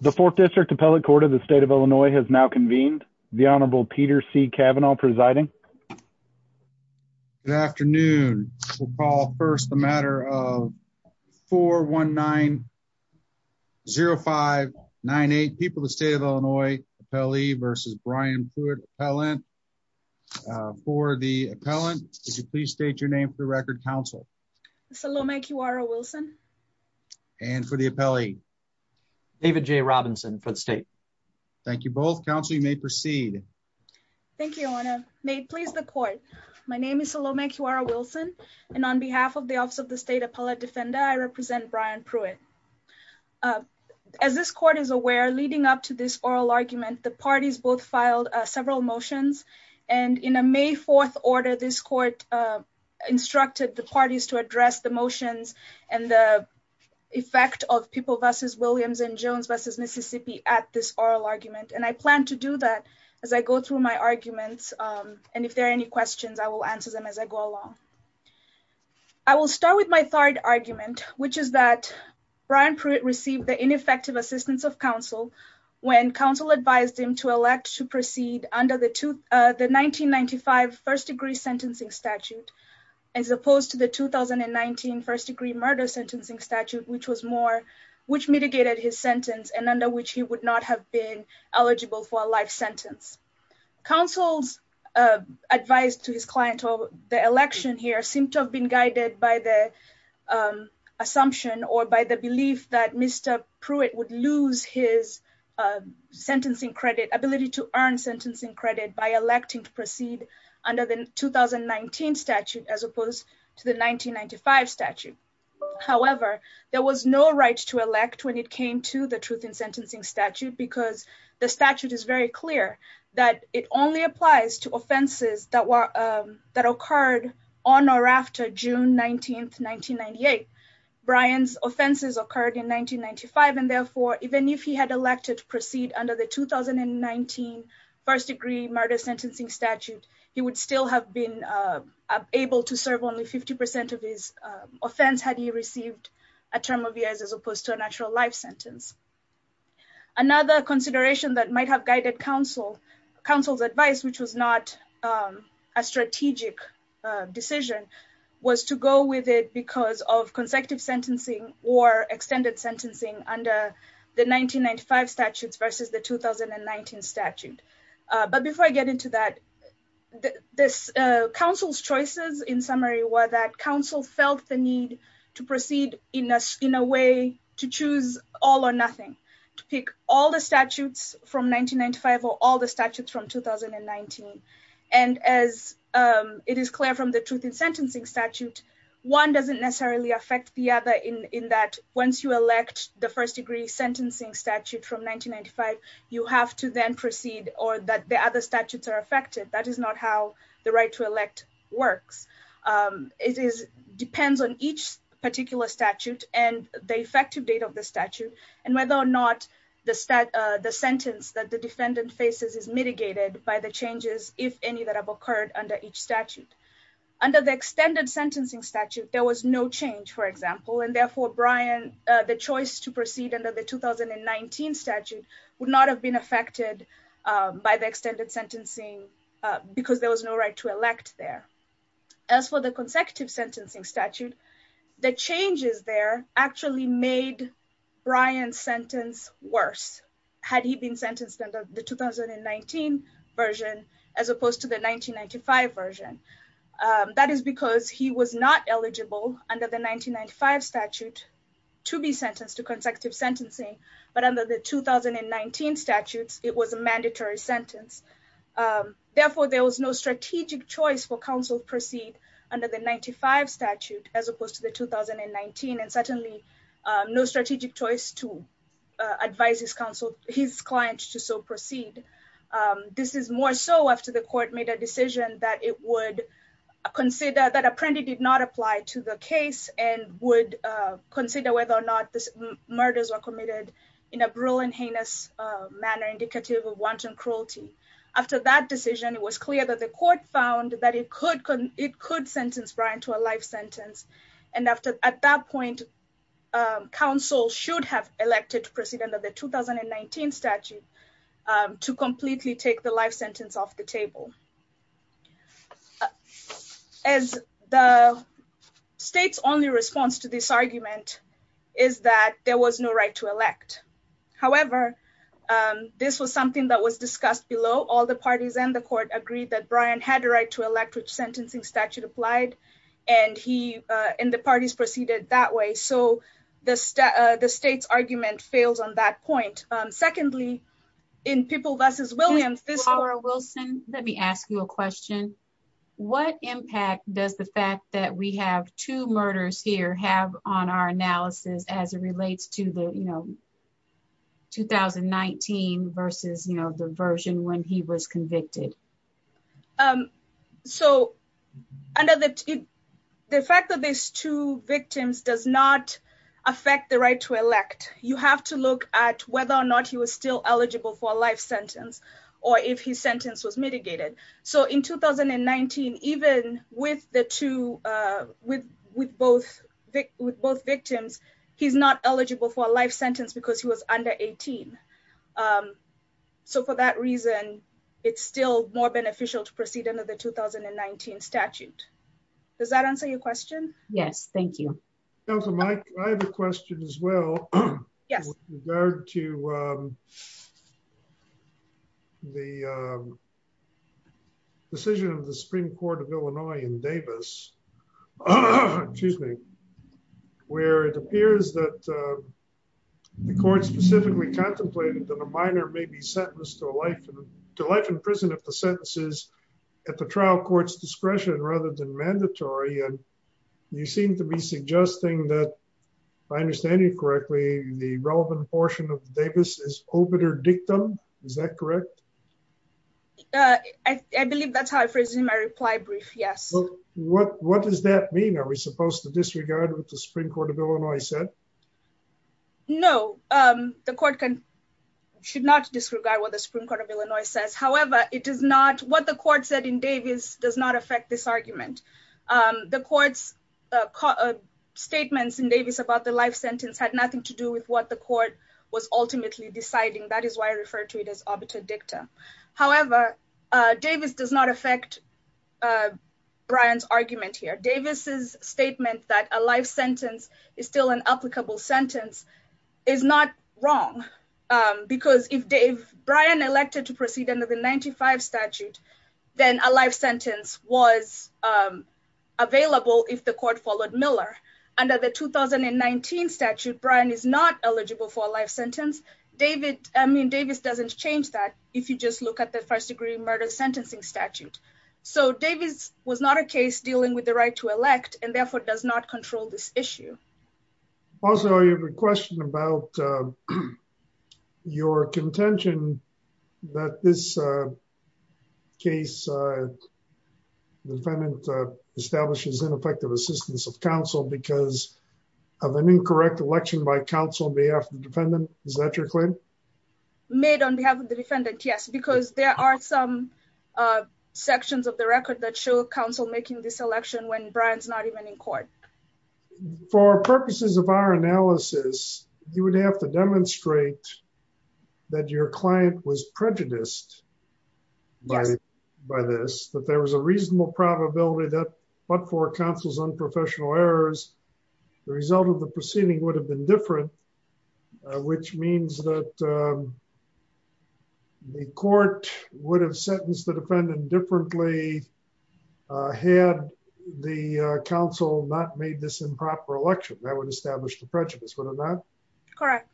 The fourth district appellate court of the state of Illinois has now convened. The Honorable Peter C. Kavanaugh presiding. Good afternoon. We'll call first the matter of 419-0598, People of the State of Illinois Appellee v. Brian Pruitt Appellant. For the appellant, would you please state your name for the record, counsel? Salome Kiwara Wilson. And for the appellee? David J. Robinson for the state. Thank you both. Counsel, you may proceed. Thank you, Your Honor. May it please the court. My name is Salome Kiwara Wilson, and on behalf of the Office of the State Appellate Defender, I represent Brian Pruitt. As this court is aware, leading up to this oral argument, the parties both filed several motions, and in a May 4th order, this court instructed the parties to address the motions and the effect of People v. Williams and Jones v. Mississippi at this oral argument, and I plan to do that as I go through my arguments, and if there are any questions, I will answer them as I go along. I will start with my third argument, which is that Brian Pruitt received the ineffective assistance of counsel when counsel advised him to elect to proceed under the 1995 first-degree sentencing statute as opposed to the 2019 first-degree murder sentencing statute, which was more, which mitigated his sentence and under which he would not have been eligible for a life sentence. Counsel's advice to his client over the election here seemed to have been guided by the assumption or by the belief that Mr. Pruitt would lose his sentencing credit, ability to earn as opposed to the 1995 statute. However, there was no right to elect when it came to the truth in sentencing statute because the statute is very clear that it only applies to offenses that were, that occurred on or after June 19th, 1998. Brian's offenses occurred in 1995, and therefore, even if he had elected to proceed under the 2019 first-degree murder sentencing statute, he would still have been able to serve only 50 percent of his offense had he received a term of years as opposed to a natural life sentence. Another consideration that might have guided counsel's advice, which was not a strategic decision, was to go with it because of consecutive sentencing or extended sentencing under the 1995 statutes versus the 2019 statute. But before I get into that, counsel's choices in summary were that counsel felt the need to proceed in a way to choose all or nothing, to pick all the statutes from 1995 or all the statutes from 2019. And as it is clear from the truth in sentencing statute, one doesn't necessarily affect the other in that once you elect the first-degree sentencing statute from 1995, you have to then proceed or that the other statutes are affected. That is not how the right to elect works. It is, depends on each particular statute and the effective date of the statute and whether or not the sentence that the defendant faces is mitigated by the changes, if any, that have occurred under each statute. Under the extended sentencing statute, there was no change, for example, and therefore, Brian, the choice to proceed under the 2019 statute would not have been affected by the extended sentencing because there was no right to elect there. As for the consecutive sentencing statute, the changes there actually made Brian's sentence worse had he been sentenced under the 2019 version as opposed to the 1995 version. That is because he was not eligible under the 1995 statute to be sentenced to consecutive sentencing, but under the 2019 statutes, it was a mandatory sentence. Therefore, there was no strategic choice for counsel to proceed under the 1995 statute as opposed to the 2019 and certainly no strategic choice to advise his counsel, his client to so proceed. This is more so after the court made a decision that it would consider, that apprendee did not apply to the case and would consider whether or not the murders were committed in a brutal and heinous manner indicative of wanton cruelty. After that decision, it was clear that the court found that it could sentence Brian to a life sentence, and at that point, counsel should have elected to proceed under the 2019 statute to completely take the life sentence off the table. As the state's only response to this argument is that there was no right to elect. However, this was something that was discussed below. All the parties and the court agreed that Brian had a right to elect, which sentencing statute applied, and the parties proceeded that way. So the state's argument fails on that point. Secondly, in People v. Williams, this- Laura Wilson, let me ask you a question. What impact does the fact that we have two murders here have on our analysis as it relates to the, you know, 2019 versus, you know, the version when he was convicted? So, the fact that there's two victims does not affect the right to elect. You have to look at whether or not he was still eligible for a life sentence, or if his sentence was mitigated. So in 2019, even with the two, with both victims, he's not eligible for a it's still more beneficial to proceed under the 2019 statute. Does that answer your question? Yes, thank you. Councilman, I have a question as well. Yes. With regard to the decision of the Supreme Court of Illinois in Davis, excuse me, where it appears that the court specifically contemplated that a minor may be sentenced to life in prison if the sentence is at the trial court's discretion rather than mandatory, and you seem to be suggesting that, if I understand you correctly, the relevant portion of Davis is obiter dictum. Is that correct? I believe that's how I phrased my reply brief, yes. What does that mean? Are we supposed to disregard what the Supreme Court of Illinois said? No, the court should not disregard what the Supreme Court of Illinois says. However, it does not, what the court said in Davis does not affect this argument. The court's statements in Davis about the life sentence had nothing to do with what the court was ultimately deciding. That is why I referred to it as obiter dictum. However, Davis does not affect Brian's argument here. Davis's statement that a life sentence is still an applicable sentence is not wrong because if Brian elected to proceed under the 95 statute, then a life sentence was available if the court followed Miller. Under the 2019 statute, Brian is not eligible for a life sentence. I mean, Davis doesn't change that if you just look at the first degree murder sentencing statute. So Davis was not a case dealing with the right to elect and therefore does not control this issue. Also, I have a question about your contention that this case, the defendant establishes ineffective assistance of counsel because of an incorrect election by counsel on behalf of the defendant. Is that your claim? Made on behalf of the defendant, yes, because there are some sections of the record that show making this election when Brian's not even in court. For purposes of our analysis, you would have to demonstrate that your client was prejudiced by this, that there was a reasonable probability that but for counsel's unprofessional errors, the result of the proceeding would have been different, which means that the court would have sentenced the defendant differently had the council not made this improper election that would establish the prejudice, would it not? Correct.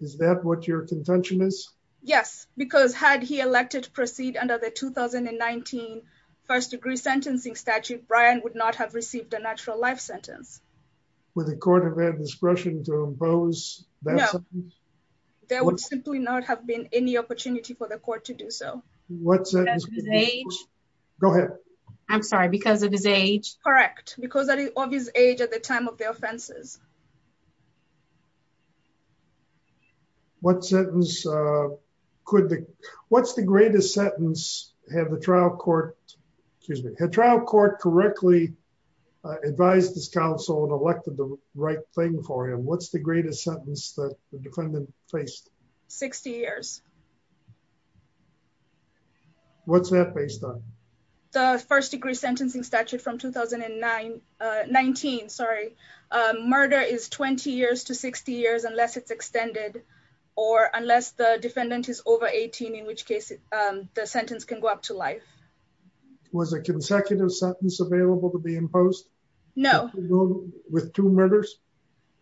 Is that what your contention is? Yes, because had he elected to proceed under the 2019 first degree sentencing statute, Brian would not have received a natural life sentence. Would the court have had discretion to impose that? There would simply not have been any opportunity for the court to do so. Go ahead. I'm sorry, because of his age? Correct. Because of his age at the time of the offenses. What's the greatest sentence have the trial court correctly advised this council and elected the right thing for him? What's the greatest sentence that the defendant faced? 60 years. What's that based on? The first degree sentencing statute from 2019, sorry. Murder is 20 years to 60 years unless it's extended or unless the defendant is over 18 in which case the sentence can go up to life. Was a consecutive sentence available to be imposed? No. With two murders?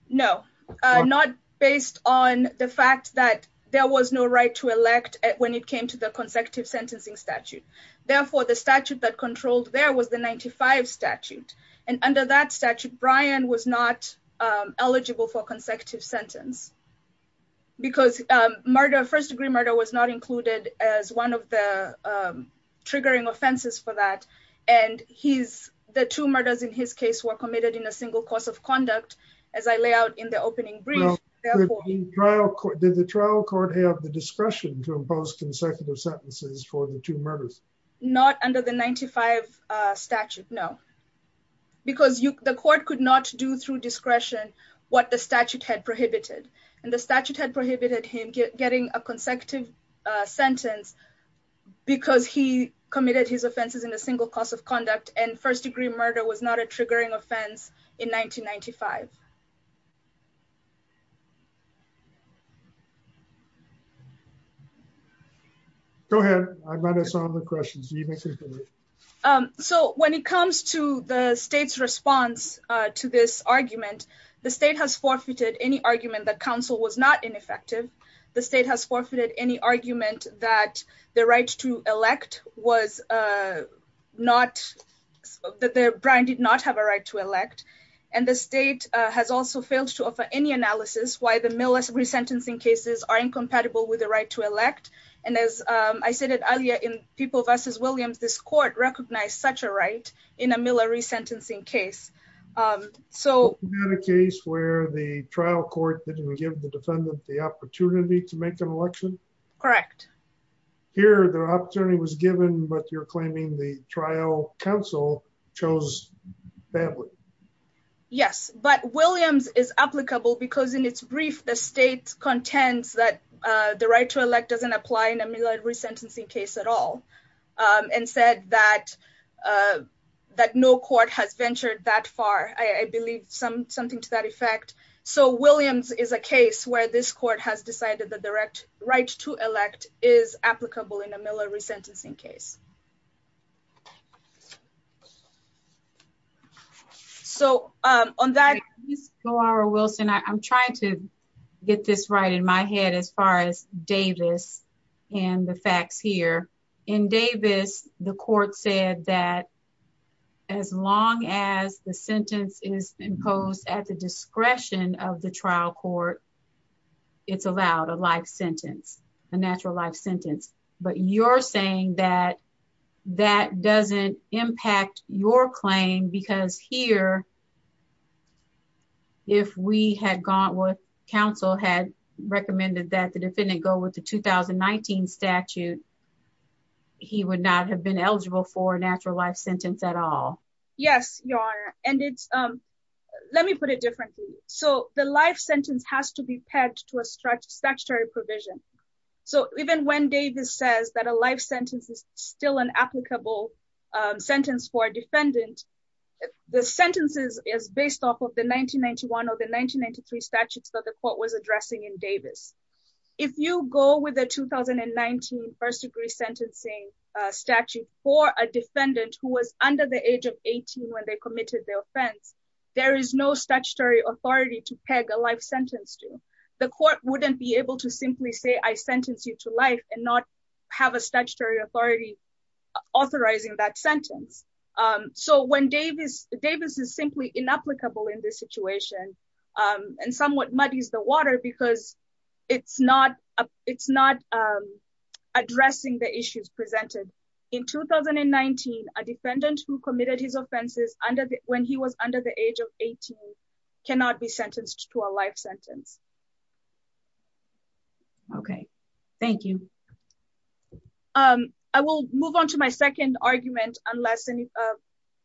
No, not based on the fact that there was no right to elect when it came to the consecutive sentencing statute. Therefore, the statute that controlled there was the 95 statute. And under that statute, Brian was not eligible for consecutive sentence. Because murder first degree murder was not included as one of the triggering offenses for that. And he's the two in his case were committed in a single course of conduct. As I lay out in the opening brief. Did the trial court have the discretion to impose consecutive sentences for the two murders? Not under the 95 statute, no. Because the court could not do through discretion, what the statute had prohibited. And the statute had prohibited him getting a consecutive sentence. Because he committed his offenses in a single course of conduct and first degree murder was not a triggering offense in 1995. Go ahead. I might have some other questions. So when it comes to the state's response to this argument, the state has forfeited any argument that counsel was not ineffective. The state has forfeited any argument that the right to elect was not that Brian did not have a right to elect. And the state has also failed to offer any analysis why the Miller's resentencing cases are incompatible with the right to elect. And as I said earlier, in people versus Williams, this court recognized such a right in a Miller resentencing case. So case where the trial court didn't give the defendant the opportunity to make an election. Correct. Here, the opportunity was given, but you're claiming the counsel chose badly. Yes, but Williams is applicable because in its brief, the state contends that the right to elect doesn't apply in a Miller resentencing case at all. And said that no court has ventured that far. I believe something to that effect. So Williams is a case where this court has decided the direct right to elect is applicable in a Miller resentencing case. So on that, I'm trying to get this right in my head as far as Davis and the facts here in Davis, the court said that as long as the sentence is imposed at the discretion of the trial court, it's allowed a life sentence, a natural life sentence. But you're saying that that doesn't impact your claim because here, if we had gone with counsel had recommended that the defendant go with the 2019 statute, he would not have been eligible for a natural life sentence at all. Yes, your honor. And it's, um, let me put it differently. So the life sentence has to be pegged to a stretch statutory provision. So even when Davis says that a life sentence is still an applicable sentence for a defendant, the sentences is based off of the 1991 or the 1993 statutes that the court was addressing in Davis. If you go with the 2019 first degree sentencing statute for a when they committed the offense, there is no statutory authority to peg a life sentence to the court wouldn't be able to simply say, I sentenced you to life and not have a statutory authority authorizing that sentence. Um, so when Davis Davis is simply inapplicable in this situation, um, and somewhat muddies the water because it's not, it's not, um, addressing the when he was under the age of 18 cannot be sentenced to a life sentence. Okay. Thank you. Um, I will move on to my second argument, unless any of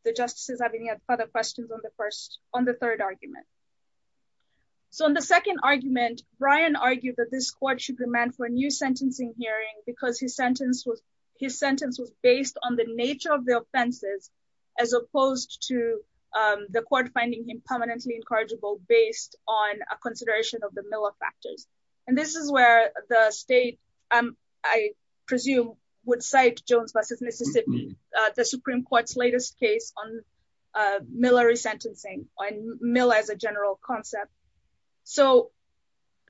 the justices have any other questions on the first on the third argument. So in the second argument, Brian argued that this court should demand for a new sentencing hearing because his sentence was, his sentence was based on the nature of the offenses as opposed to, um, the court finding him permanently incorrigible based on a consideration of the Miller factors. And this is where the state, um, I presume would cite Jones versus Mississippi, uh, the Supreme court's latest case on, uh, Miller resentencing on Miller as a general concept. So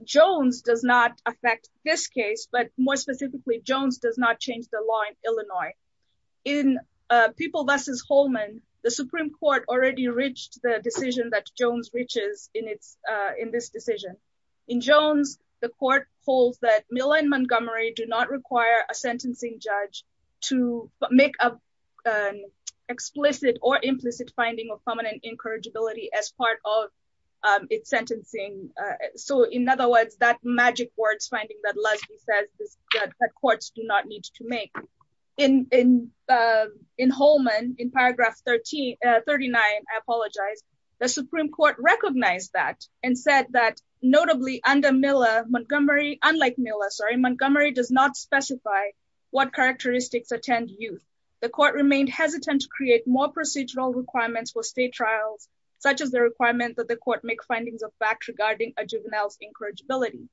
Jones does not affect this case, but more specifically, Jones does not change the law in Illinois, in a people versus Holman, the Supreme court already reached the decision that Jones reaches in its, uh, in this decision in Jones, the court holds that Miller and Montgomery do not require a sentencing judge to make up an explicit or implicit finding of prominent incorrigibility as part of, um, it's sentencing. Uh, so in other words, that magic words, finding that Leslie says that courts do not need to make in, in, uh, in Holman in paragraph 13, uh, 39, I apologize. The Supreme court recognized that and said that notably under Miller Montgomery, unlike Miller, sorry, Montgomery does not specify what characteristics attend youth. The court that the court make findings of facts regarding a juvenile's incorrigibility.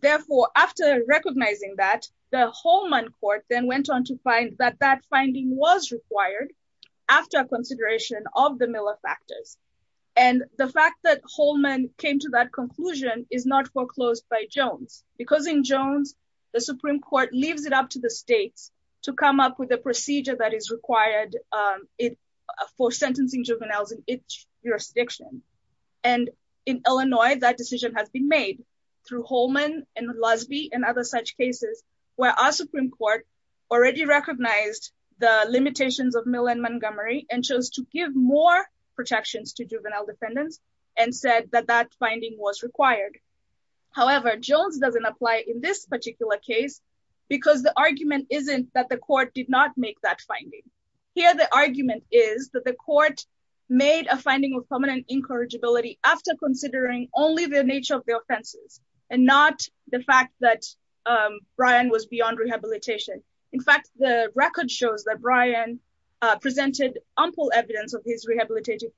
Therefore, after recognizing that the Holman court then went on to find that that finding was required after consideration of the Miller factors. And the fact that Holman came to that conclusion is not foreclosed by Jones because in Jones, the Supreme court leaves it up to the States to come up with a procedure that is required, um, it for sentencing juveniles in each jurisdiction. And in Illinois, that decision has been made through Holman and Lesby and other such cases where our Supreme court already recognized the limitations of Miller and Montgomery and chose to give more protections to juvenile defendants and said that that finding was required. However, Jones doesn't apply in this particular case because the argument isn't that the court did not make that finding here. The argument is that the court made a finding of permanent incorrigibility after considering only the nature of the offenses and not the fact that, um, Brian was beyond rehabilitation. In fact, the record shows that Brian presented ample evidence of his rehabilitation.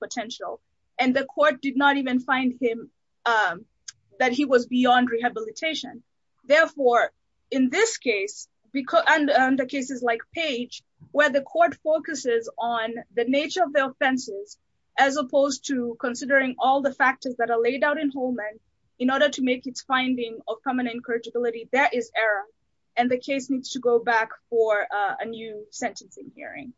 Therefore, in this case, because the cases like page where the court focuses on the nature of the offenses, as opposed to considering all the factors that are laid out in Holman in order to make its finding of permanent incorrigibility, that is error. And the case needs to go back for a new sentencing hearing.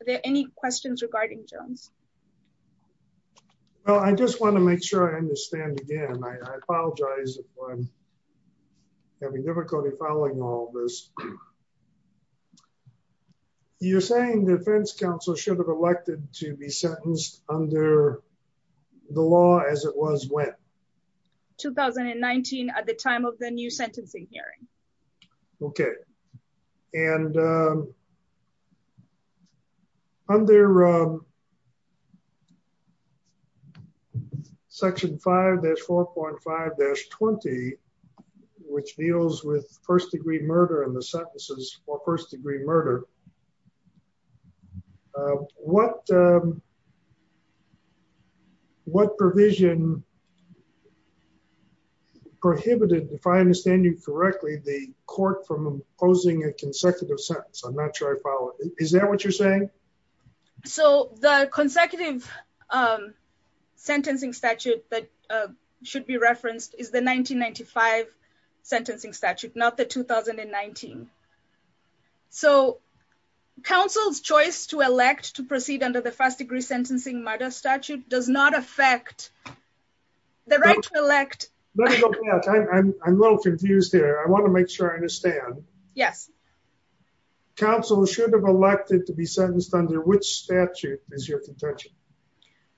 Are there any questions regarding Jones? Well, I just want to make sure I understand again. I apologize if I'm having difficulty following all this. You're saying the defense counsel should have elected to be sentenced under the law as it was when? 2019 at the time of the new sentencing hearing. Okay. And, um, under, um, section 5-4.5-20, which deals with first degree murder and the sentences for first degree murder. Uh, what, um, what provision prohibited, if I understand you correctly, the court from imposing a consecutive sentence? I'm not sure I follow. Is that what you're saying? So the consecutive, um, sentencing statute that, uh, should be referenced is the 1995 sentencing statute, not the 2019. So counsel's choice to elect to proceed under the first degree sentencing murder statute does not affect the right to elect. Let me go back. I'm a little confused here. I want to make sure I understand. Yes. Counsel should have elected to be sentenced under which statute is your contention?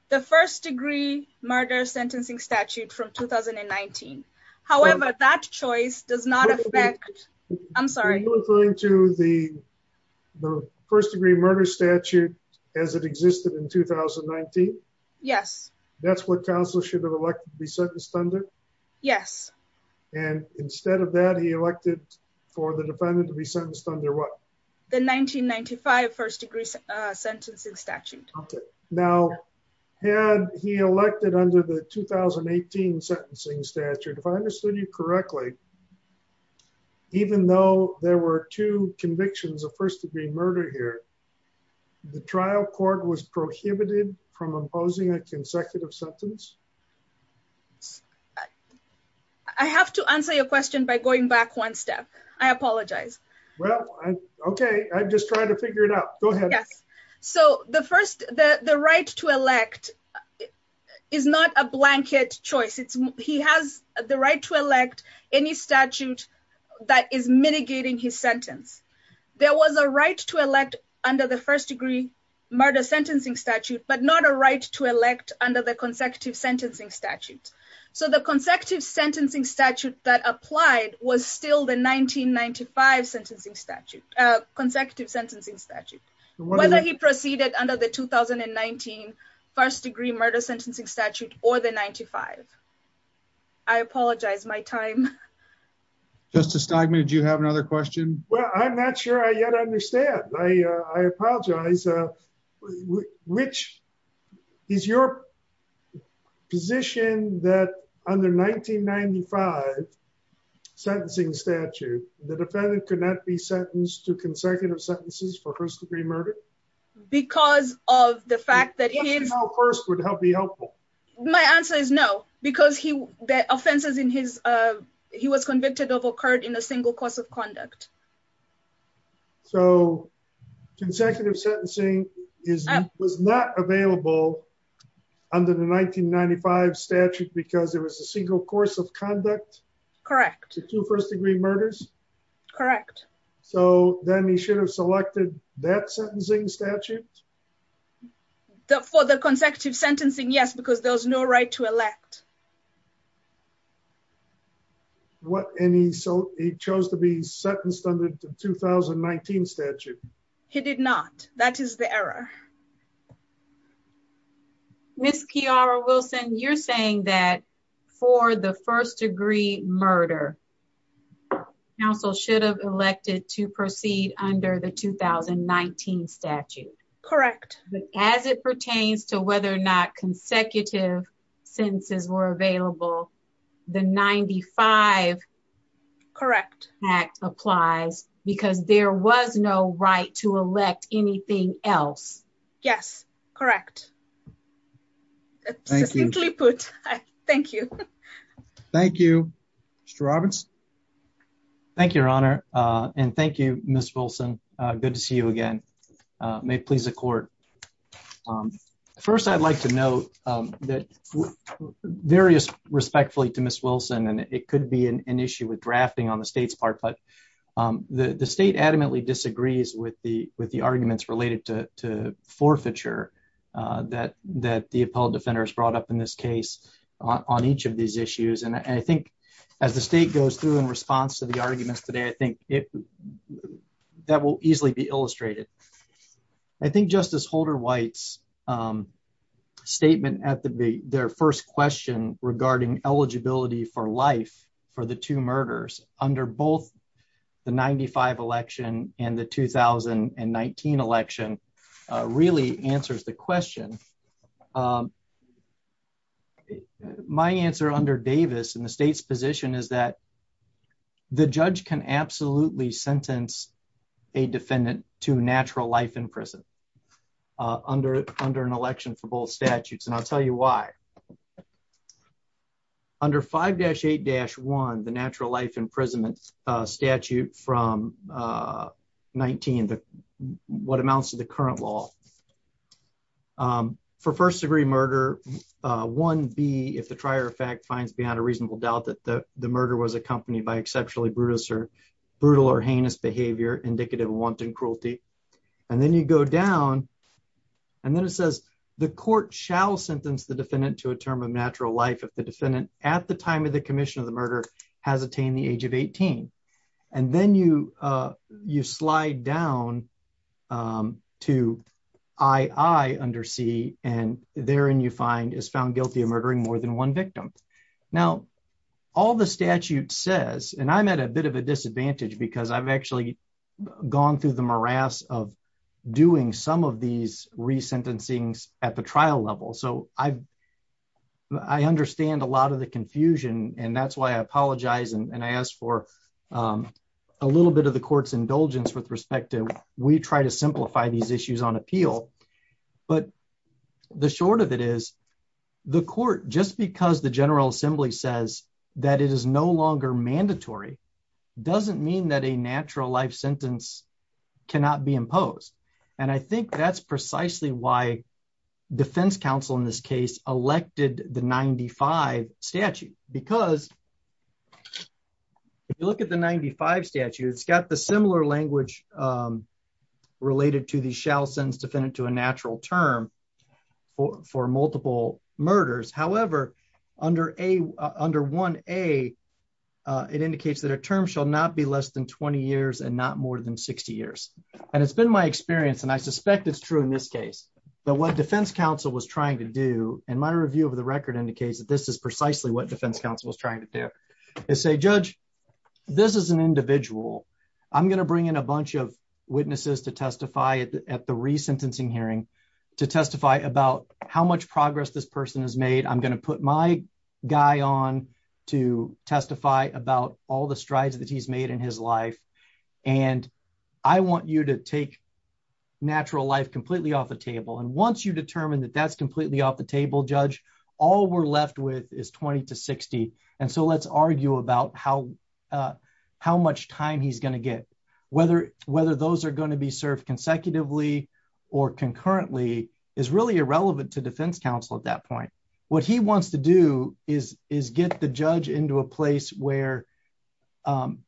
The first degree murder sentencing statute from 2019. However, that choice does not affect. I'm sorry. You're referring to the first degree murder statute as it existed in 2019? Yes. That's what counsel should have elected to be sentenced under? Yes. And instead of that, he elected for the defendant to be sentenced under what? The 1995 first degree sentencing statute. Okay. Now had he elected under the 2018 sentencing statute, if I understood you correctly, even though there were two convictions of first degree murder here, the trial court was prohibited from imposing a consecutive sentence? I have to answer your question by going back one step. I apologize. Well, okay. I'm just trying to figure it out. Go ahead. Yes. So the first, the right to elect is not a blanket choice. It's, he has the right to elect any statute that is mitigating his sentence. There was a right to elect under the first degree murder sentencing statute, but not a right to elect under the consecutive sentencing statute. So the consecutive sentencing statute that applied was still the consecutive sentencing statute, whether he proceeded under the 2019 first degree murder sentencing statute or the 95. I apologize my time. Justice Stogman, did you have another question? Well, I'm not sure I yet understand. I, uh, I apologize. Uh, which is your position that under 1995 sentencing statute, the defendant could not be sentenced to consecutive sentences for first degree murder because of the fact that first would help be helpful. My answer is no, because he, the offenses in his, uh, he was convicted of occurred in a single course of conduct. So consecutive sentencing is, was not available under the 1995 statute because there was a single course of conduct correct to first degree murders. Correct. So then he should have selected that sentencing statute for the consecutive sentencing. Yes, because there was no right to elect what any, so he chose to be sentenced under the 2019 statute. He did not. That is the error. Ms. Kiara Wilson, you're saying that for the first degree murder counsel should have elected to proceed under the 2019 statute. Correct. As it pertains to whether or not consecutive sentences were available, the 95. Correct. Act applies because there was no right to elect anything else. Yes, correct. Thank you. Thank you. Thank you. Mr. Roberts. Thank you, Your Honor. Uh, and thank you, Miss Wilson. Good to see you again. May it please the court. Um, first I'd like to note, um, that various respectfully to Miss Wilson and it could be an issue with drafting on the state's part, but, um, the, the state adamantly disagrees with the, with the arguments related to, to forfeiture, uh, that, that the appellate defender has brought up in this case on each of these issues. And I think as the state goes through in response to the arguments today, I think it, that will easily be illustrated. I think justice Holder White's, um, statement at the, the, their first question regarding eligibility for life for the two murders under both the 95 election and the 2019 election, uh, really answers the question. Um, my answer under Davis and the state's position is that the judge can absolutely sentence a defendant to natural life in prison, uh, under, under an election for both statutes. And I'll tell you why under five dash eight dash one, the natural life imprisonment, uh, statute from, uh, 19, the, what amounts to the current law, um, for first degree murder, uh, one B, if the trier of fact finds beyond a reasonable doubt that the murder was accompanied by indicative of wanton cruelty. And then you go down and then it says the court shall sentence the defendant to a term of natural life. If the defendant at the time of the commission of the murder has attained the age of 18, and then you, uh, you slide down, um, to I I under C and there, and you find is found guilty of murdering more than one victim. Now all the statute says, and I'm at a bit of a disadvantage because I've actually gone through the morass of doing some of these resentencings at the trial level. So I've, I understand a lot of the confusion and that's why I apologize. And I asked for, um, a little bit of the court's indulgence with respect to, we try to simplify these issues on appeal, but the short of it is the court, just because the general assembly says that it is no longer mandatory, doesn't mean that a natural life sentence cannot be imposed. And I think that's precisely why defense counsel in this case elected the 95 statute, because if you look at the 95 statute, it's got the similar language, um, related to the shall sentence defendant to a natural term for, for multiple murders. However, under a, uh, under one, a, uh, it indicates that a term shall not be less than 20 years and not more than 60 years. And it's been my experience. And I suspect it's true in this case, but what defense counsel was trying to do and my review of the record indicates that this is precisely what defense counsel was trying to do is say, judge, this is an individual. I'm going to bring in a bunch of witnesses to testify at the re-sentencing hearing to testify about how much progress this person has made. I'm going to put my guy on to testify about all the strides that he's made in his life. And I want you to take natural life completely off the table. And once you determine that that's completely off the table, judge, all we're left with is 20 to 60. And so let's argue about how, uh, how much time he's going to get, whether, whether those are going to be served consecutively or concurrently is really irrelevant to defense counsel. At that point, what he wants to do is, is get the judge into a place where, um,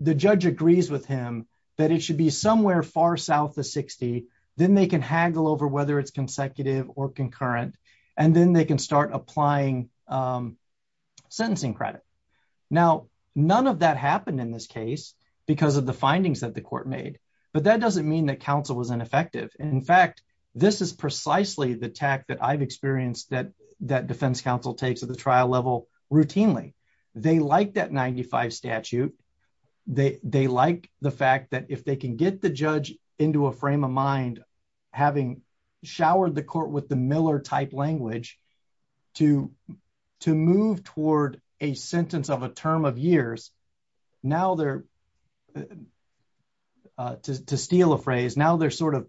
the judge agrees with him that it should be somewhere far South of 60. Then they can haggle over whether it's consecutive or concurrent, and then they can start applying, um, sentencing credit. Now, none of that happened in this case because of the findings that the court made, but that doesn't mean that counsel was ineffective. And in fact, this is precisely the tack that I've experienced that, that defense counsel takes at the trial level routinely. They liked that 95 statute. They, they like the fact that if they can get the judge into a frame of mind, having showered the court with the Miller type language to, to move toward a sentence of a term of years, now they're, uh, to, to steal a phrase. Now they're sort of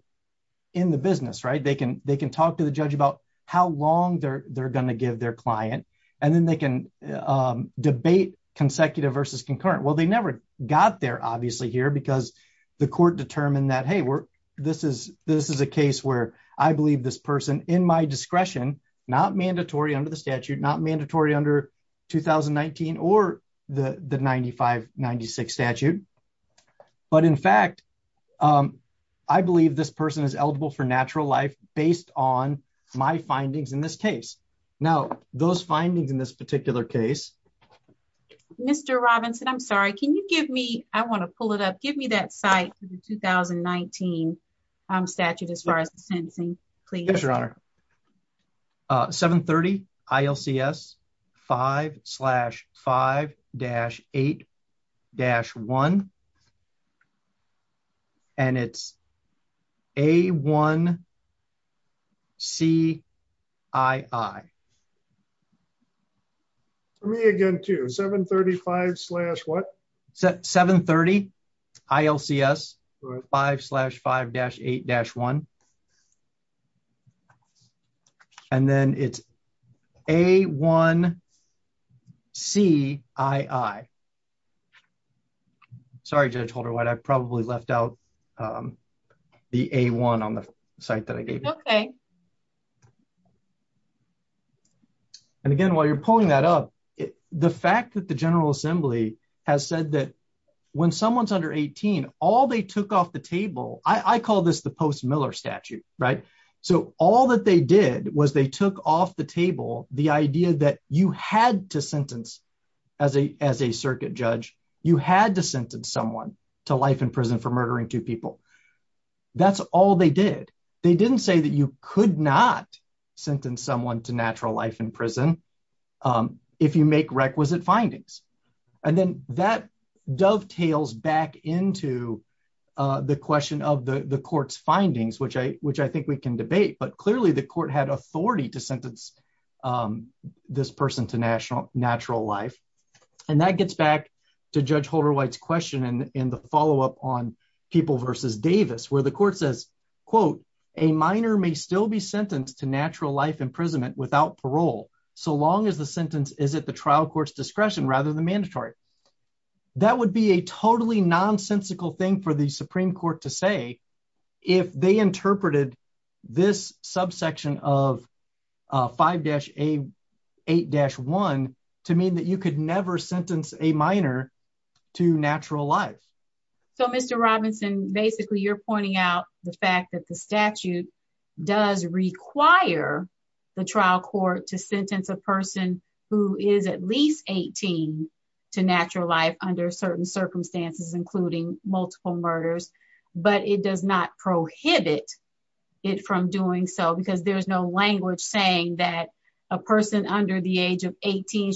in the business, right? They can, they can talk to the judge about how long they're, they're going to give their client. And then they can, um, debate consecutive versus concurrent. Well, they never got there obviously here because the court determined that, Hey, we're, this is, this is a case where I believe this person in my discretion, not mandatory under the statute, not mandatory under 2019 or the 95 96 statute. But in fact, um, I believe this person is eligible for natural life based on my findings in this case. Now those findings in this particular case, Mr. Robinson, I'm sorry. Can you give me, I want to pull it up. Give me that site for the 2019, um, statute as far as the sentencing, please. Yes, your honor. Uh, seven 30 ILCS five slash five dash eight dash one. And it's a one C I I for me again to seven 35 slash what? Seven 30 ILCS five slash five dash eight dash one. And then it's a one C I I sorry, judge holder. What I probably left out. Um, the a one on the site that I gave you. Okay. Okay. And again, while you're pulling that up, the fact that the general assembly has said that when someone's under 18, all they took off the table, I call this the post Miller statute, right? So all that they did was they took off the table, the idea that you had to sentence as a, as a circuit judge, you had to sentence someone to life in prison for murdering two That's all they did. They didn't say that you could not sentence someone to natural life in prison. Um, if you make requisite findings and then that dovetails back into, uh, the question of the court's findings, which I, which I think we can debate, but clearly the court had authority to sentence, um, this person to national natural life. And that gets back to judge question. And in the follow-up on people versus Davis, where the court says, quote, a minor may still be sentenced to natural life imprisonment without parole. So long as the sentence is at the trial court's discretion rather than mandatory, that would be a totally nonsensical thing for the Supreme court to say, if they interpreted this subsection of, uh, five dash a eight dash one to mean that you could never sentence a minor to natural life. So Mr. Robinson, basically you're pointing out the fact that the statute does require the trial court to sentence a person who is at least 18 to natural life under certain circumstances, including multiple murders, but it does not prohibit it from doing so because there's no language saying that a person under the age of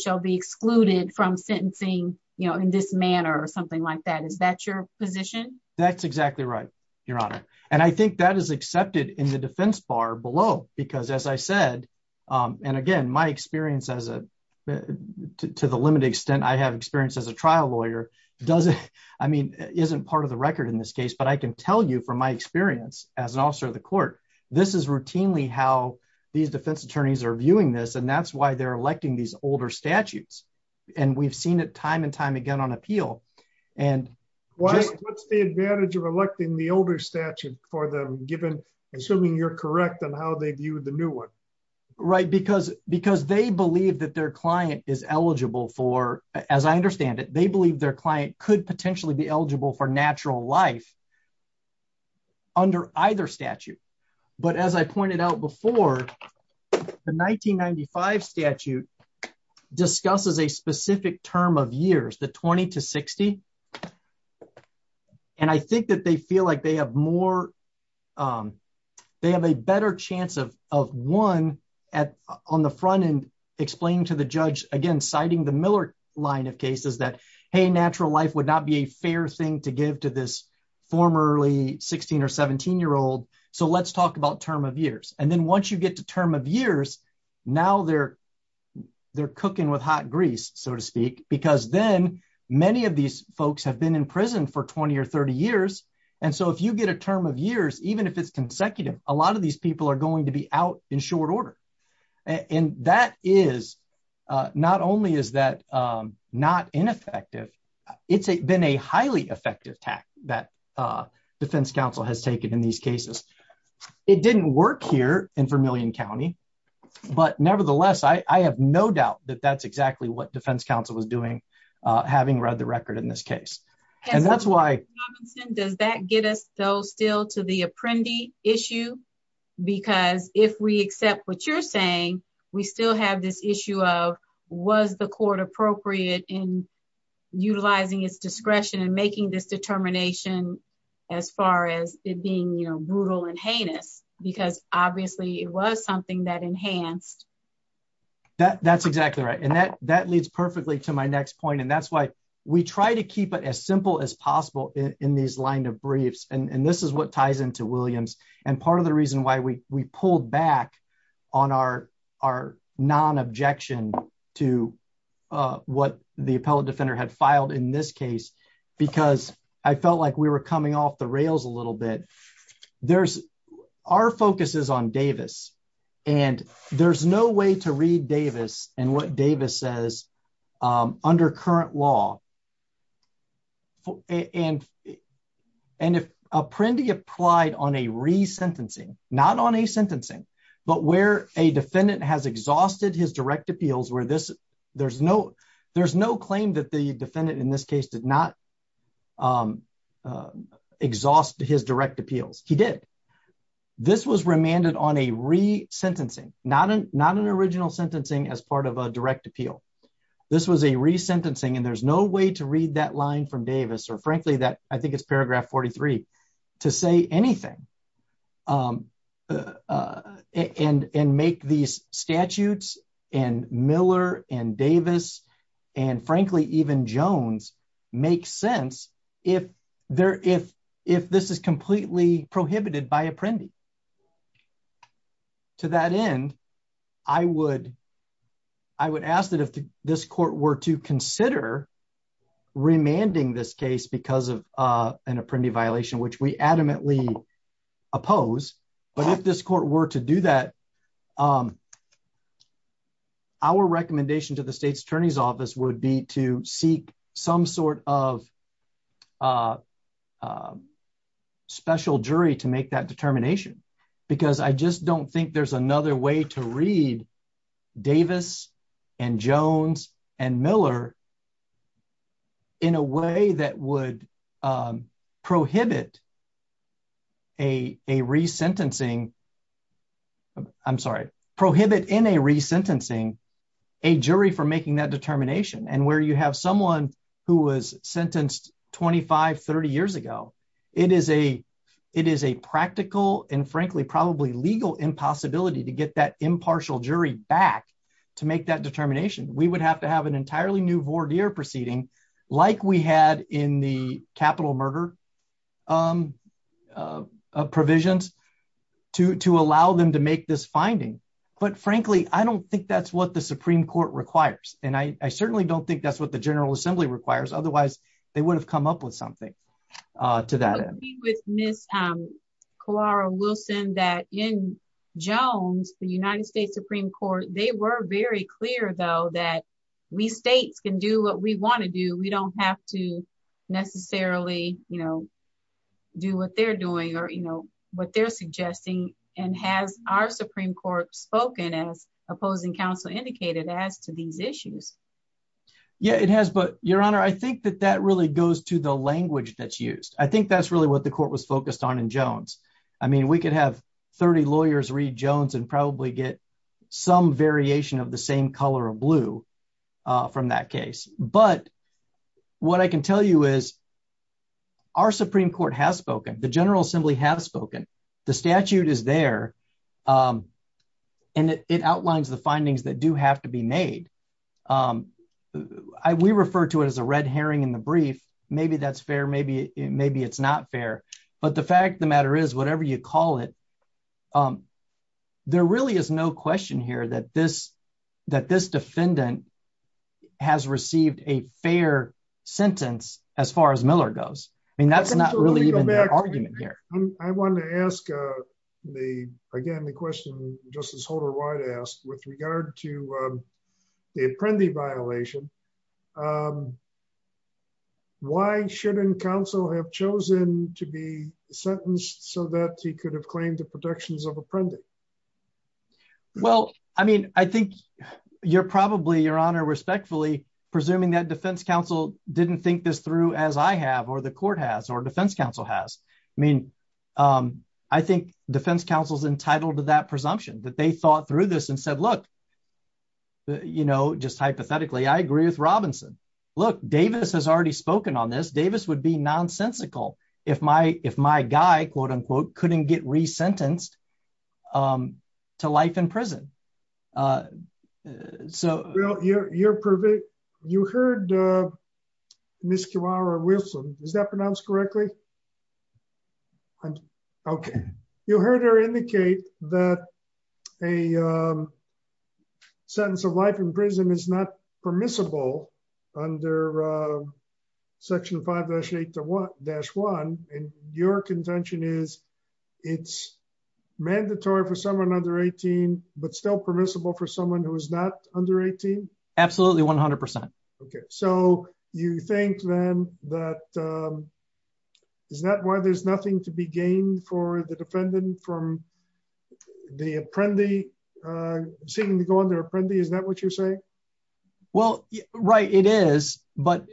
shall be excluded from sentencing, you know, in this manner or something like that. Is that your position? That's exactly right. Your honor. And I think that is accepted in the defense bar below, because as I said, um, and again, my experience as a, to the limited extent I have experienced as a trial lawyer, does it, I mean, isn't part of the record in this case, but I can tell you from my experience as an officer of the court, this is routinely how these defense attorneys are viewing this. And that's why they're electing these older statutes. And we've seen it time and time again on appeal. And what's the advantage of electing the older statute for them given, assuming you're correct on how they view the new one, right? Because, because they believe that their client is eligible for, as I understand it, they believe their client could potentially be statute discusses a specific term of years, the 20 to 60. And I think that they feel like they have more, um, they have a better chance of, of one at on the front end, explaining to the judge again, citing the Miller line of cases that, Hey, natural life would not be a fair thing to give to this formerly 16 or 17 year old. So let's talk about term of years. And then once you get to term of years, now they're, they're cooking with hot grease, so to speak, because then many of these folks have been in prison for 20 or 30 years. And so if you get a term of years, even if it's consecutive, a lot of these people are going to be out in short order. And that is, uh, not only is that, um, not ineffective, it's been a highly effective tack that, uh, defense council has taken in these cases. It didn't work here in Vermillion County, but nevertheless, I have no doubt that that's exactly what defense council was doing, uh, having read the record in this case. And that's why, does that get us though, still to the apprendee issue? Because if we accept what you're saying, we still have this issue of was the court appropriate in utilizing its discretion and making this determination as far as it being, you know, brutal and heinous, because obviously it was something that enhanced. That's exactly right. And that, that leads perfectly to my next point. And that's why we try to keep it as simple as possible in these line of briefs. And this is what ties into and part of the reason why we, we pulled back on our, our non-objection to, uh, what the appellate defender had filed in this case, because I felt like we were coming off the rails a little bit. There's our focus is on Davis and there's no way to read Davis and what Davis says, um, under current law. And, and if a prende applied on a resentencing, not on a sentencing, but where a defendant has exhausted his direct appeals, where this there's no, there's no claim that the defendant in this case did not, um, uh, exhaust his direct appeals. He did. This was remanded on a re sentencing, not an, not an original sentencing as part of a direct appeal. This was a resentencing and there's no way to read that line from Davis or frankly, that I think it's paragraph 43 to say anything, um, uh, and, and make these statutes and Miller and Davis, and frankly, even Jones make sense. If there, if, if this is completely prohibited by a prende to that end, I would, I would ask that if this court were to consider remanding this case because of, uh, an apprendee violation, which we adamantly oppose, but if this court were to do that, um, our recommendation to the state's attorney's office would be to seek some sort of, uh, uh, special jury to make that determination, because I just don't think there's another way to read Davis and Jones and Miller in a way that would, um, prohibit a, a re sentencing. I'm sorry, prohibit in a re sentencing, a jury for making that determination. And where you have someone who was sentenced 25, 30 years ago, it is a, it is a practical and frankly, probably legal impossibility to get that impartial jury back to make that determination. We would have to have an entirely new voir dire proceeding, like we had in the capital murder, um, uh, uh, provisions to allow them to make this finding. But frankly, I don't think that's what the Supreme court requires. And I, I certainly don't think that's what the general assembly requires. Otherwise they would have come up with something, uh, to that end with Ms. Um, Clara Wilson that in Jones, the United States Supreme court, they were very clear though, that we States can do what we want to do. We don't have to necessarily, you know, do what they're doing or, you know, what they're opposing council indicated as to these issues. Yeah, it has, but your honor, I think that that really goes to the language that's used. I think that's really what the court was focused on in Jones. I mean, we could have 30 lawyers read Jones and probably get some variation of the same color of blue, uh, from that case. But what I can tell you is our Supreme court has spoken. The general assembly has spoken. The statute is there. Um, and it outlines the findings that do have to be made. Um, I, we refer to it as a red Herring in the brief. Maybe that's fair. Maybe, maybe it's not fair, but the fact of the matter is whatever you call it, um, there really is no question here that this, that this defendant has received a fair sentence as far as Miller goes. I mean, that's not really even the argument here. I want to ask, uh, the, again, the question just as Holder White asked with regard to, um, the Apprendi violation, um, why shouldn't council have chosen to be sentenced so that he could have claimed the protections of Apprendi? Well, I mean, I think you're probably your honor respectfully presuming that defense council didn't think this through as I have, or the court has, or defense council has. I mean, um, I think defense council's entitled to that presumption that they thought through this and said, look, you know, just hypothetically, I agree with Robinson. Look, Davis has already spoken on this. Davis would be nonsensical. If my, if my guy quote, get resentenced, um, to life in prison. Uh, so you're, you're perfect. You heard, uh, Miss Kiwara Wilson, is that pronounced correctly? Okay. You heard her indicate that a, um, sentence of life in prison is not permissible under, uh, section five dash eight to one dash and your contention is it's mandatory for someone under 18, but still permissible for someone who is not under 18. Absolutely. 100%. Okay. So you think then that, um, is that why there's nothing to be gained for the defendant from the Apprendi, uh, seeming to go under Apprendi. Is that what you're saying? Well, right. It is, but,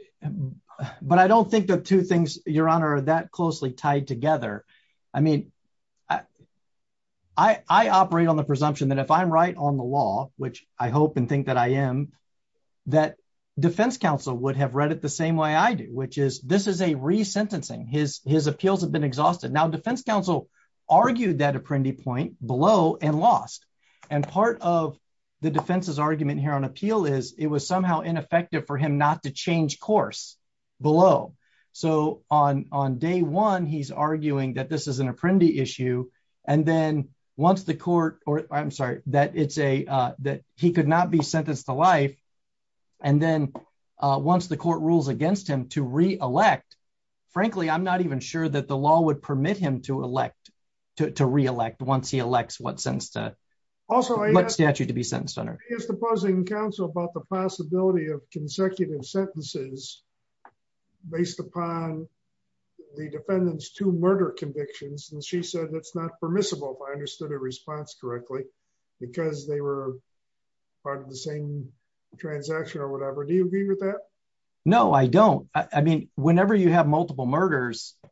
but I don't think the two things your honor that closely tied together. I mean, I, I operate on the presumption that if I'm right on the law, which I hope and think that I am that defense council would have read it the same way I do, which is, this is a resentencing. His, his appeals have been exhausted. Now defense council argued that Apprendi point below and lost. And part of the defense's argument here on appeal is it was somehow ineffective for him not to change course below. So on, on day one, he's arguing that this is an Apprendi issue. And then once the court, or I'm sorry, that it's a, uh, that he could not be sentenced to life. And then, uh, once the court rules against him to reelect, frankly, I'm not sure that the law would permit him to elect, to, to reelect once he elects what sense to what statute to be sentenced under. Is the opposing council about the possibility of consecutive sentences based upon the defendants to murder convictions? And she said, that's not permissible. If I understood her response correctly, because they were part of the same transaction or whatever. Do you agree with that? No, I don't. I mean, whenever you have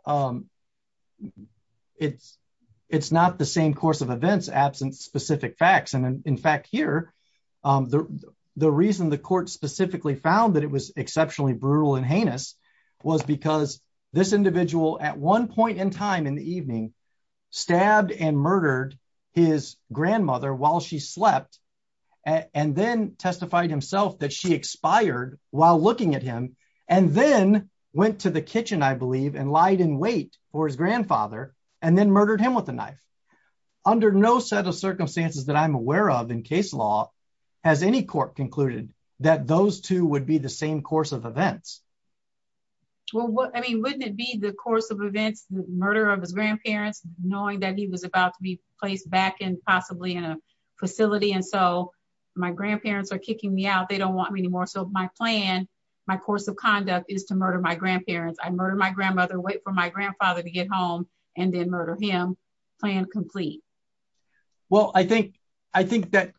um, it's, it's not the same course of events, absence specific facts. And in fact here, um, the, the reason the court specifically found that it was exceptionally brutal and heinous was because this individual at one point in time in the evening stabbed and murdered his grandmother while she slept and then testified himself that she expired while looking at him and then went to the kitchen, I believe, and lied in wait for his grandfather and then murdered him with a knife under no set of circumstances that I'm aware of in case law has any court concluded that those two would be the same course of events. Well, I mean, wouldn't it be the course of events, murder of his grandparents, knowing that he was about to be placed back in possibly in a facility. And so my grandparents are kicking me out. They don't want me anymore. So my plan, my course of conduct is to murder my grandparents. I murdered my grandmother, wait for my grandfather to get home and then murder him plan complete. Well, I think, I think that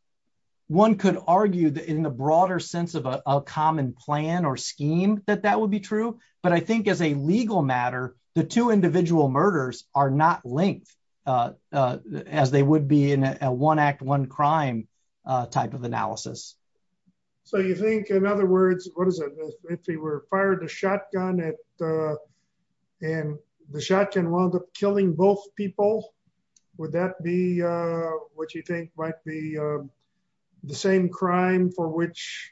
one could argue that in the broader sense of a common plan or scheme, that that would be true. But I think as a legal matter, the two individual murders are not linked, uh, uh, as they would be in a one act, one crime, uh, type of analysis. So you think in other words, what does it, if he were fired a shotgun at, uh, and the shotgun wound up killing both people, would that be, uh, what you think might be, um, the same crime for which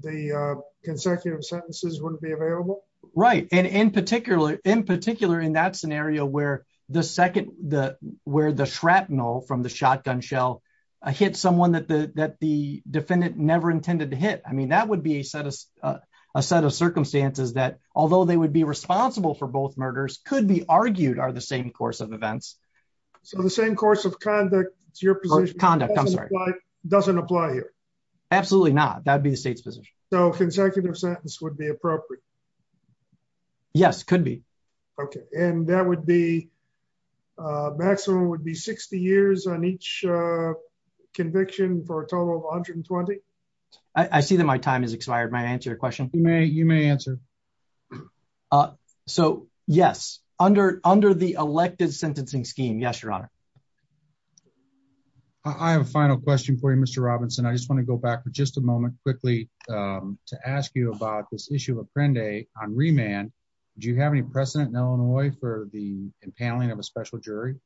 the, uh, consecutive sentences wouldn't be available? Right. And in particular, in particular, in that scenario where the second, the, where the shrapnel from the shotgun shell hit someone that the, that the defendant never intended to hit. I mean, that would be a set of, uh, a set of circumstances that although they would be responsible for both murders could be argued are the same course of events. So the same course of conduct to your position doesn't apply here. Absolutely not. That'd be the state's position. So consecutive sentence would be appropriate. Yes, could be. Okay. And that would be, uh, maximum would be 60 years on each, uh, conviction for a total of 120. I see that my time has expired. My answer your question. You may, you may answer. Uh, so yes, under, under the elected sentencing scheme. Yes, Your Honor. I have a final question for you, Mr. Robinson. I just want to go back for just a moment quickly, um, to ask you about this issue of Apprende on remand. Do you have any precedent in Illinois for the impaling of a special jury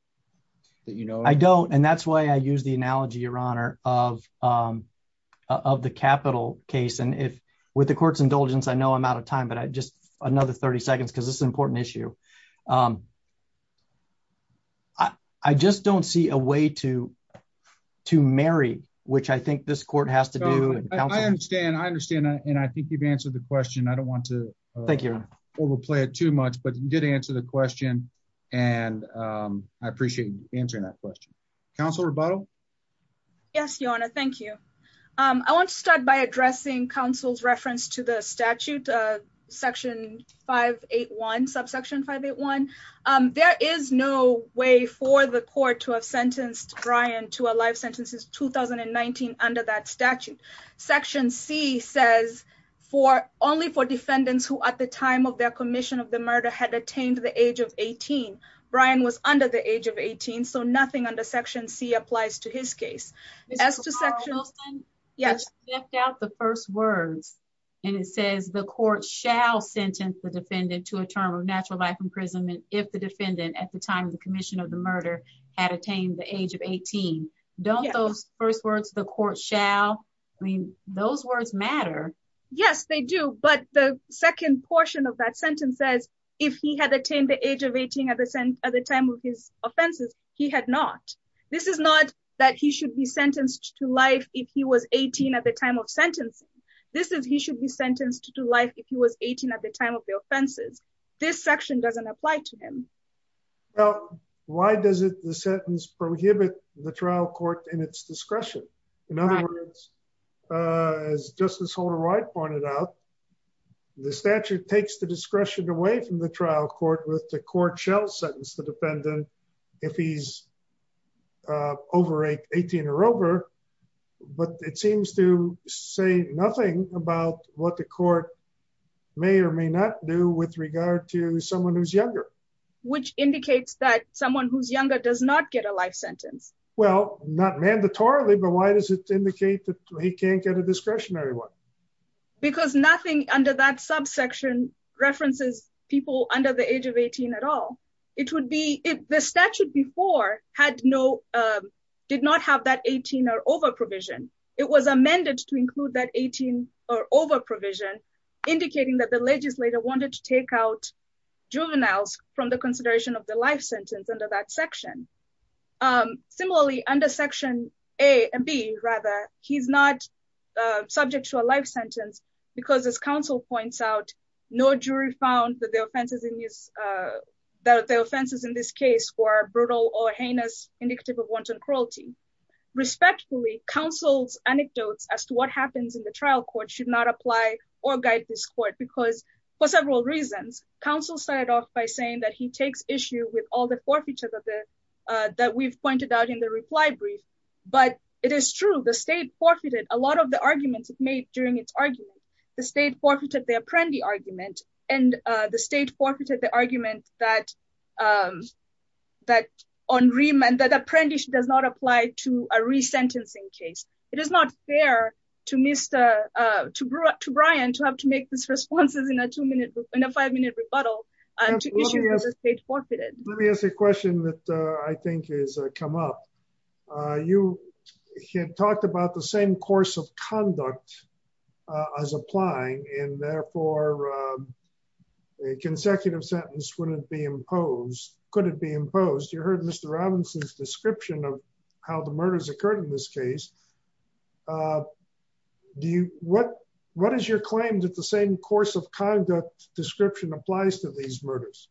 that, you know, I don't. And that's why I use the analogy, Your Honor of, um, uh, of the capital case. And if with the court's indulgence, I know I'm out of time, but I just another 30 seconds, cause this is an important issue. Um, I, I just don't see a way to, to marry, which I think this court has to do. I understand. I understand. And I think you've answered the question. I don't want to thank you overplay it too much, but you did answer the question. And, um, I appreciate you answering that question council rebuttal. Yes, Your Honor. Thank you. Um, I want to start by addressing council's reference to the statute, uh, section 581 subsection 581. Um, there is no way for the court to have sentenced Brian to a life sentence is 2019 under that statute. Section C says for only for defendants who at the time of their commission of the murder had attained the age of 18, Brian was under the age of 18. So nothing under section C applies to his case as to section. Yes. The first words, and it says the court shall sentence the defendant to a term of natural life imprisonment. If the defendant at the time of the commission of the murder had attained the age of 18, don't those first words, the court shall, I mean, those words matter. Yes, they do. But the second portion of that sentence says, if he had attained the age of 18 at the time of his offenses, he had not, this is not that he should be sentenced to life. If he was 18 at the time of sentencing, this is, he should be sentenced to life at the time of the offenses. This section doesn't apply to him. Well, why does it, the sentence prohibit the trial court in its discretion? In other words, uh, as Justice Holder-Wright pointed out, the statute takes the discretion away from the trial court with the court shall sentence the defendant if he's, uh, over 18 or over, but it seems to say nothing about what the court may or may not do with regard to someone who's younger. Which indicates that someone who's younger does not get a life sentence. Well, not mandatorily, but why does it indicate that he can't get a discretionary one? Because nothing under that subsection references people under the age of 18 at all. It would be, if the statute before had no, um, did not have that 18 or over provision, it was amended to include that 18 or over provision indicating that the legislator wanted to take out juveniles from the consideration of the life sentence under that section. Um, similarly under section A and B rather, he's not, uh, subject to a life sentence because as counsel points out, no jury found that the offenses in this, uh, that the offenses in this case were brutal or heinous indicative of wanton cruelty. Respectfully, counsel's anecdotes as to what happens in the trial court should not apply or guide this court because for several reasons, counsel started off by saying that he takes issue with all the forfeiture that the, uh, that we've pointed out in the reply brief, but it is true. The state forfeited a lot of the arguments it made during its argument. The state forfeited the Apprendi argument and, uh, the state forfeited the argument that, um, that on remand, that Apprendi does not apply to a resentencing case. It is not fair to Mr., uh, to Brian to have to make these responses in a two-minute, in a five-minute rebuttal to issues that the state forfeited. Let me ask a question that, uh, I think has come up. Uh, you had talked about the same course of conduct, uh, as applying and therefore, um, a consecutive sentence wouldn't be imposed. Could it be imposed? You heard Mr. Robinson's description of how the murders occurred in this case. Uh, do you, what, what is your claim that the same course of conduct description applies to these murders?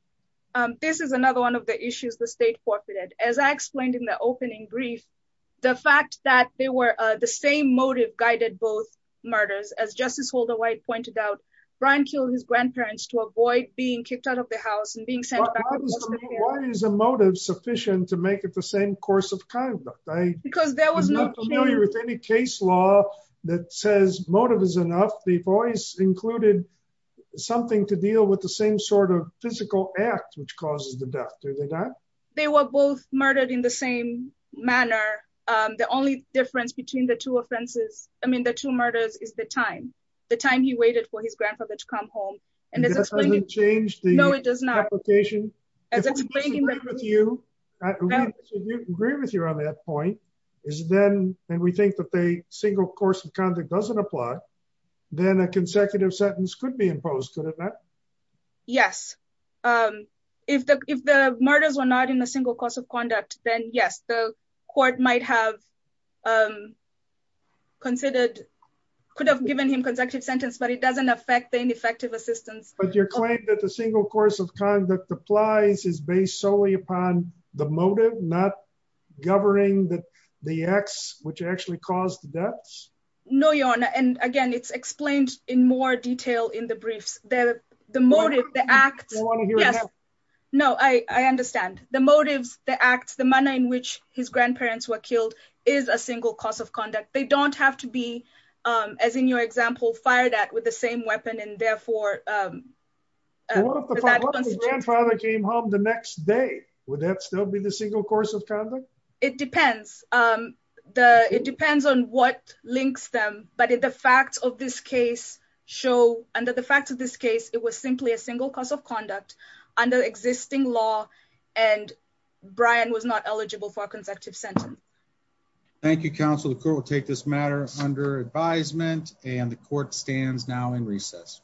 Um, this is another one of the issues the state forfeited. As I explained in the opening brief, the fact that they were, uh, the same motive guided both murders. As Justice Holder-White pointed out, Brian killed his being kicked out of the house and being sent back. Why is a motive sufficient to make it the same course of conduct? I'm not familiar with any case law that says motive is enough. They've always included something to deal with the same sort of physical act which causes the death. Do they not? They were both murdered in the same manner. Um, the only difference between the two offenses, I mean, the two murders is the time, the time he waited for his grandfather to come home. It doesn't change the application? No, it does not. If I agree with you on that point, is then, and we think that the single course of conduct doesn't apply, then a consecutive sentence could be imposed, could it not? Yes. Um, if the, if the murders were not in a single course of conduct, then yes, the court might have, um, considered, could have given him consecutive sentence, but it doesn't affect the ineffective assistance. But your claim that the single course of conduct applies is based solely upon the motive, not governing the, the acts which actually caused the deaths? No, Your Honor. And again, it's explained in more detail in the briefs. The, the motive, the act. No, I understand. The motives, the acts, the manner in which his grandparents were killed is a single course of conduct. They don't have to be, um, as in your example, fired at with the same weapon and therefore, um, grandfather came home the next day. Would that still be the single course of conduct? It depends. Um, the, it depends on what links them, but the facts of this case show under the facts of this case, it was simply a single course of conduct under existing law. And Brian was not eligible for a consecutive sentence. Thank you, Counsel. The court will take this matter under advisement, and the court stands now in recess.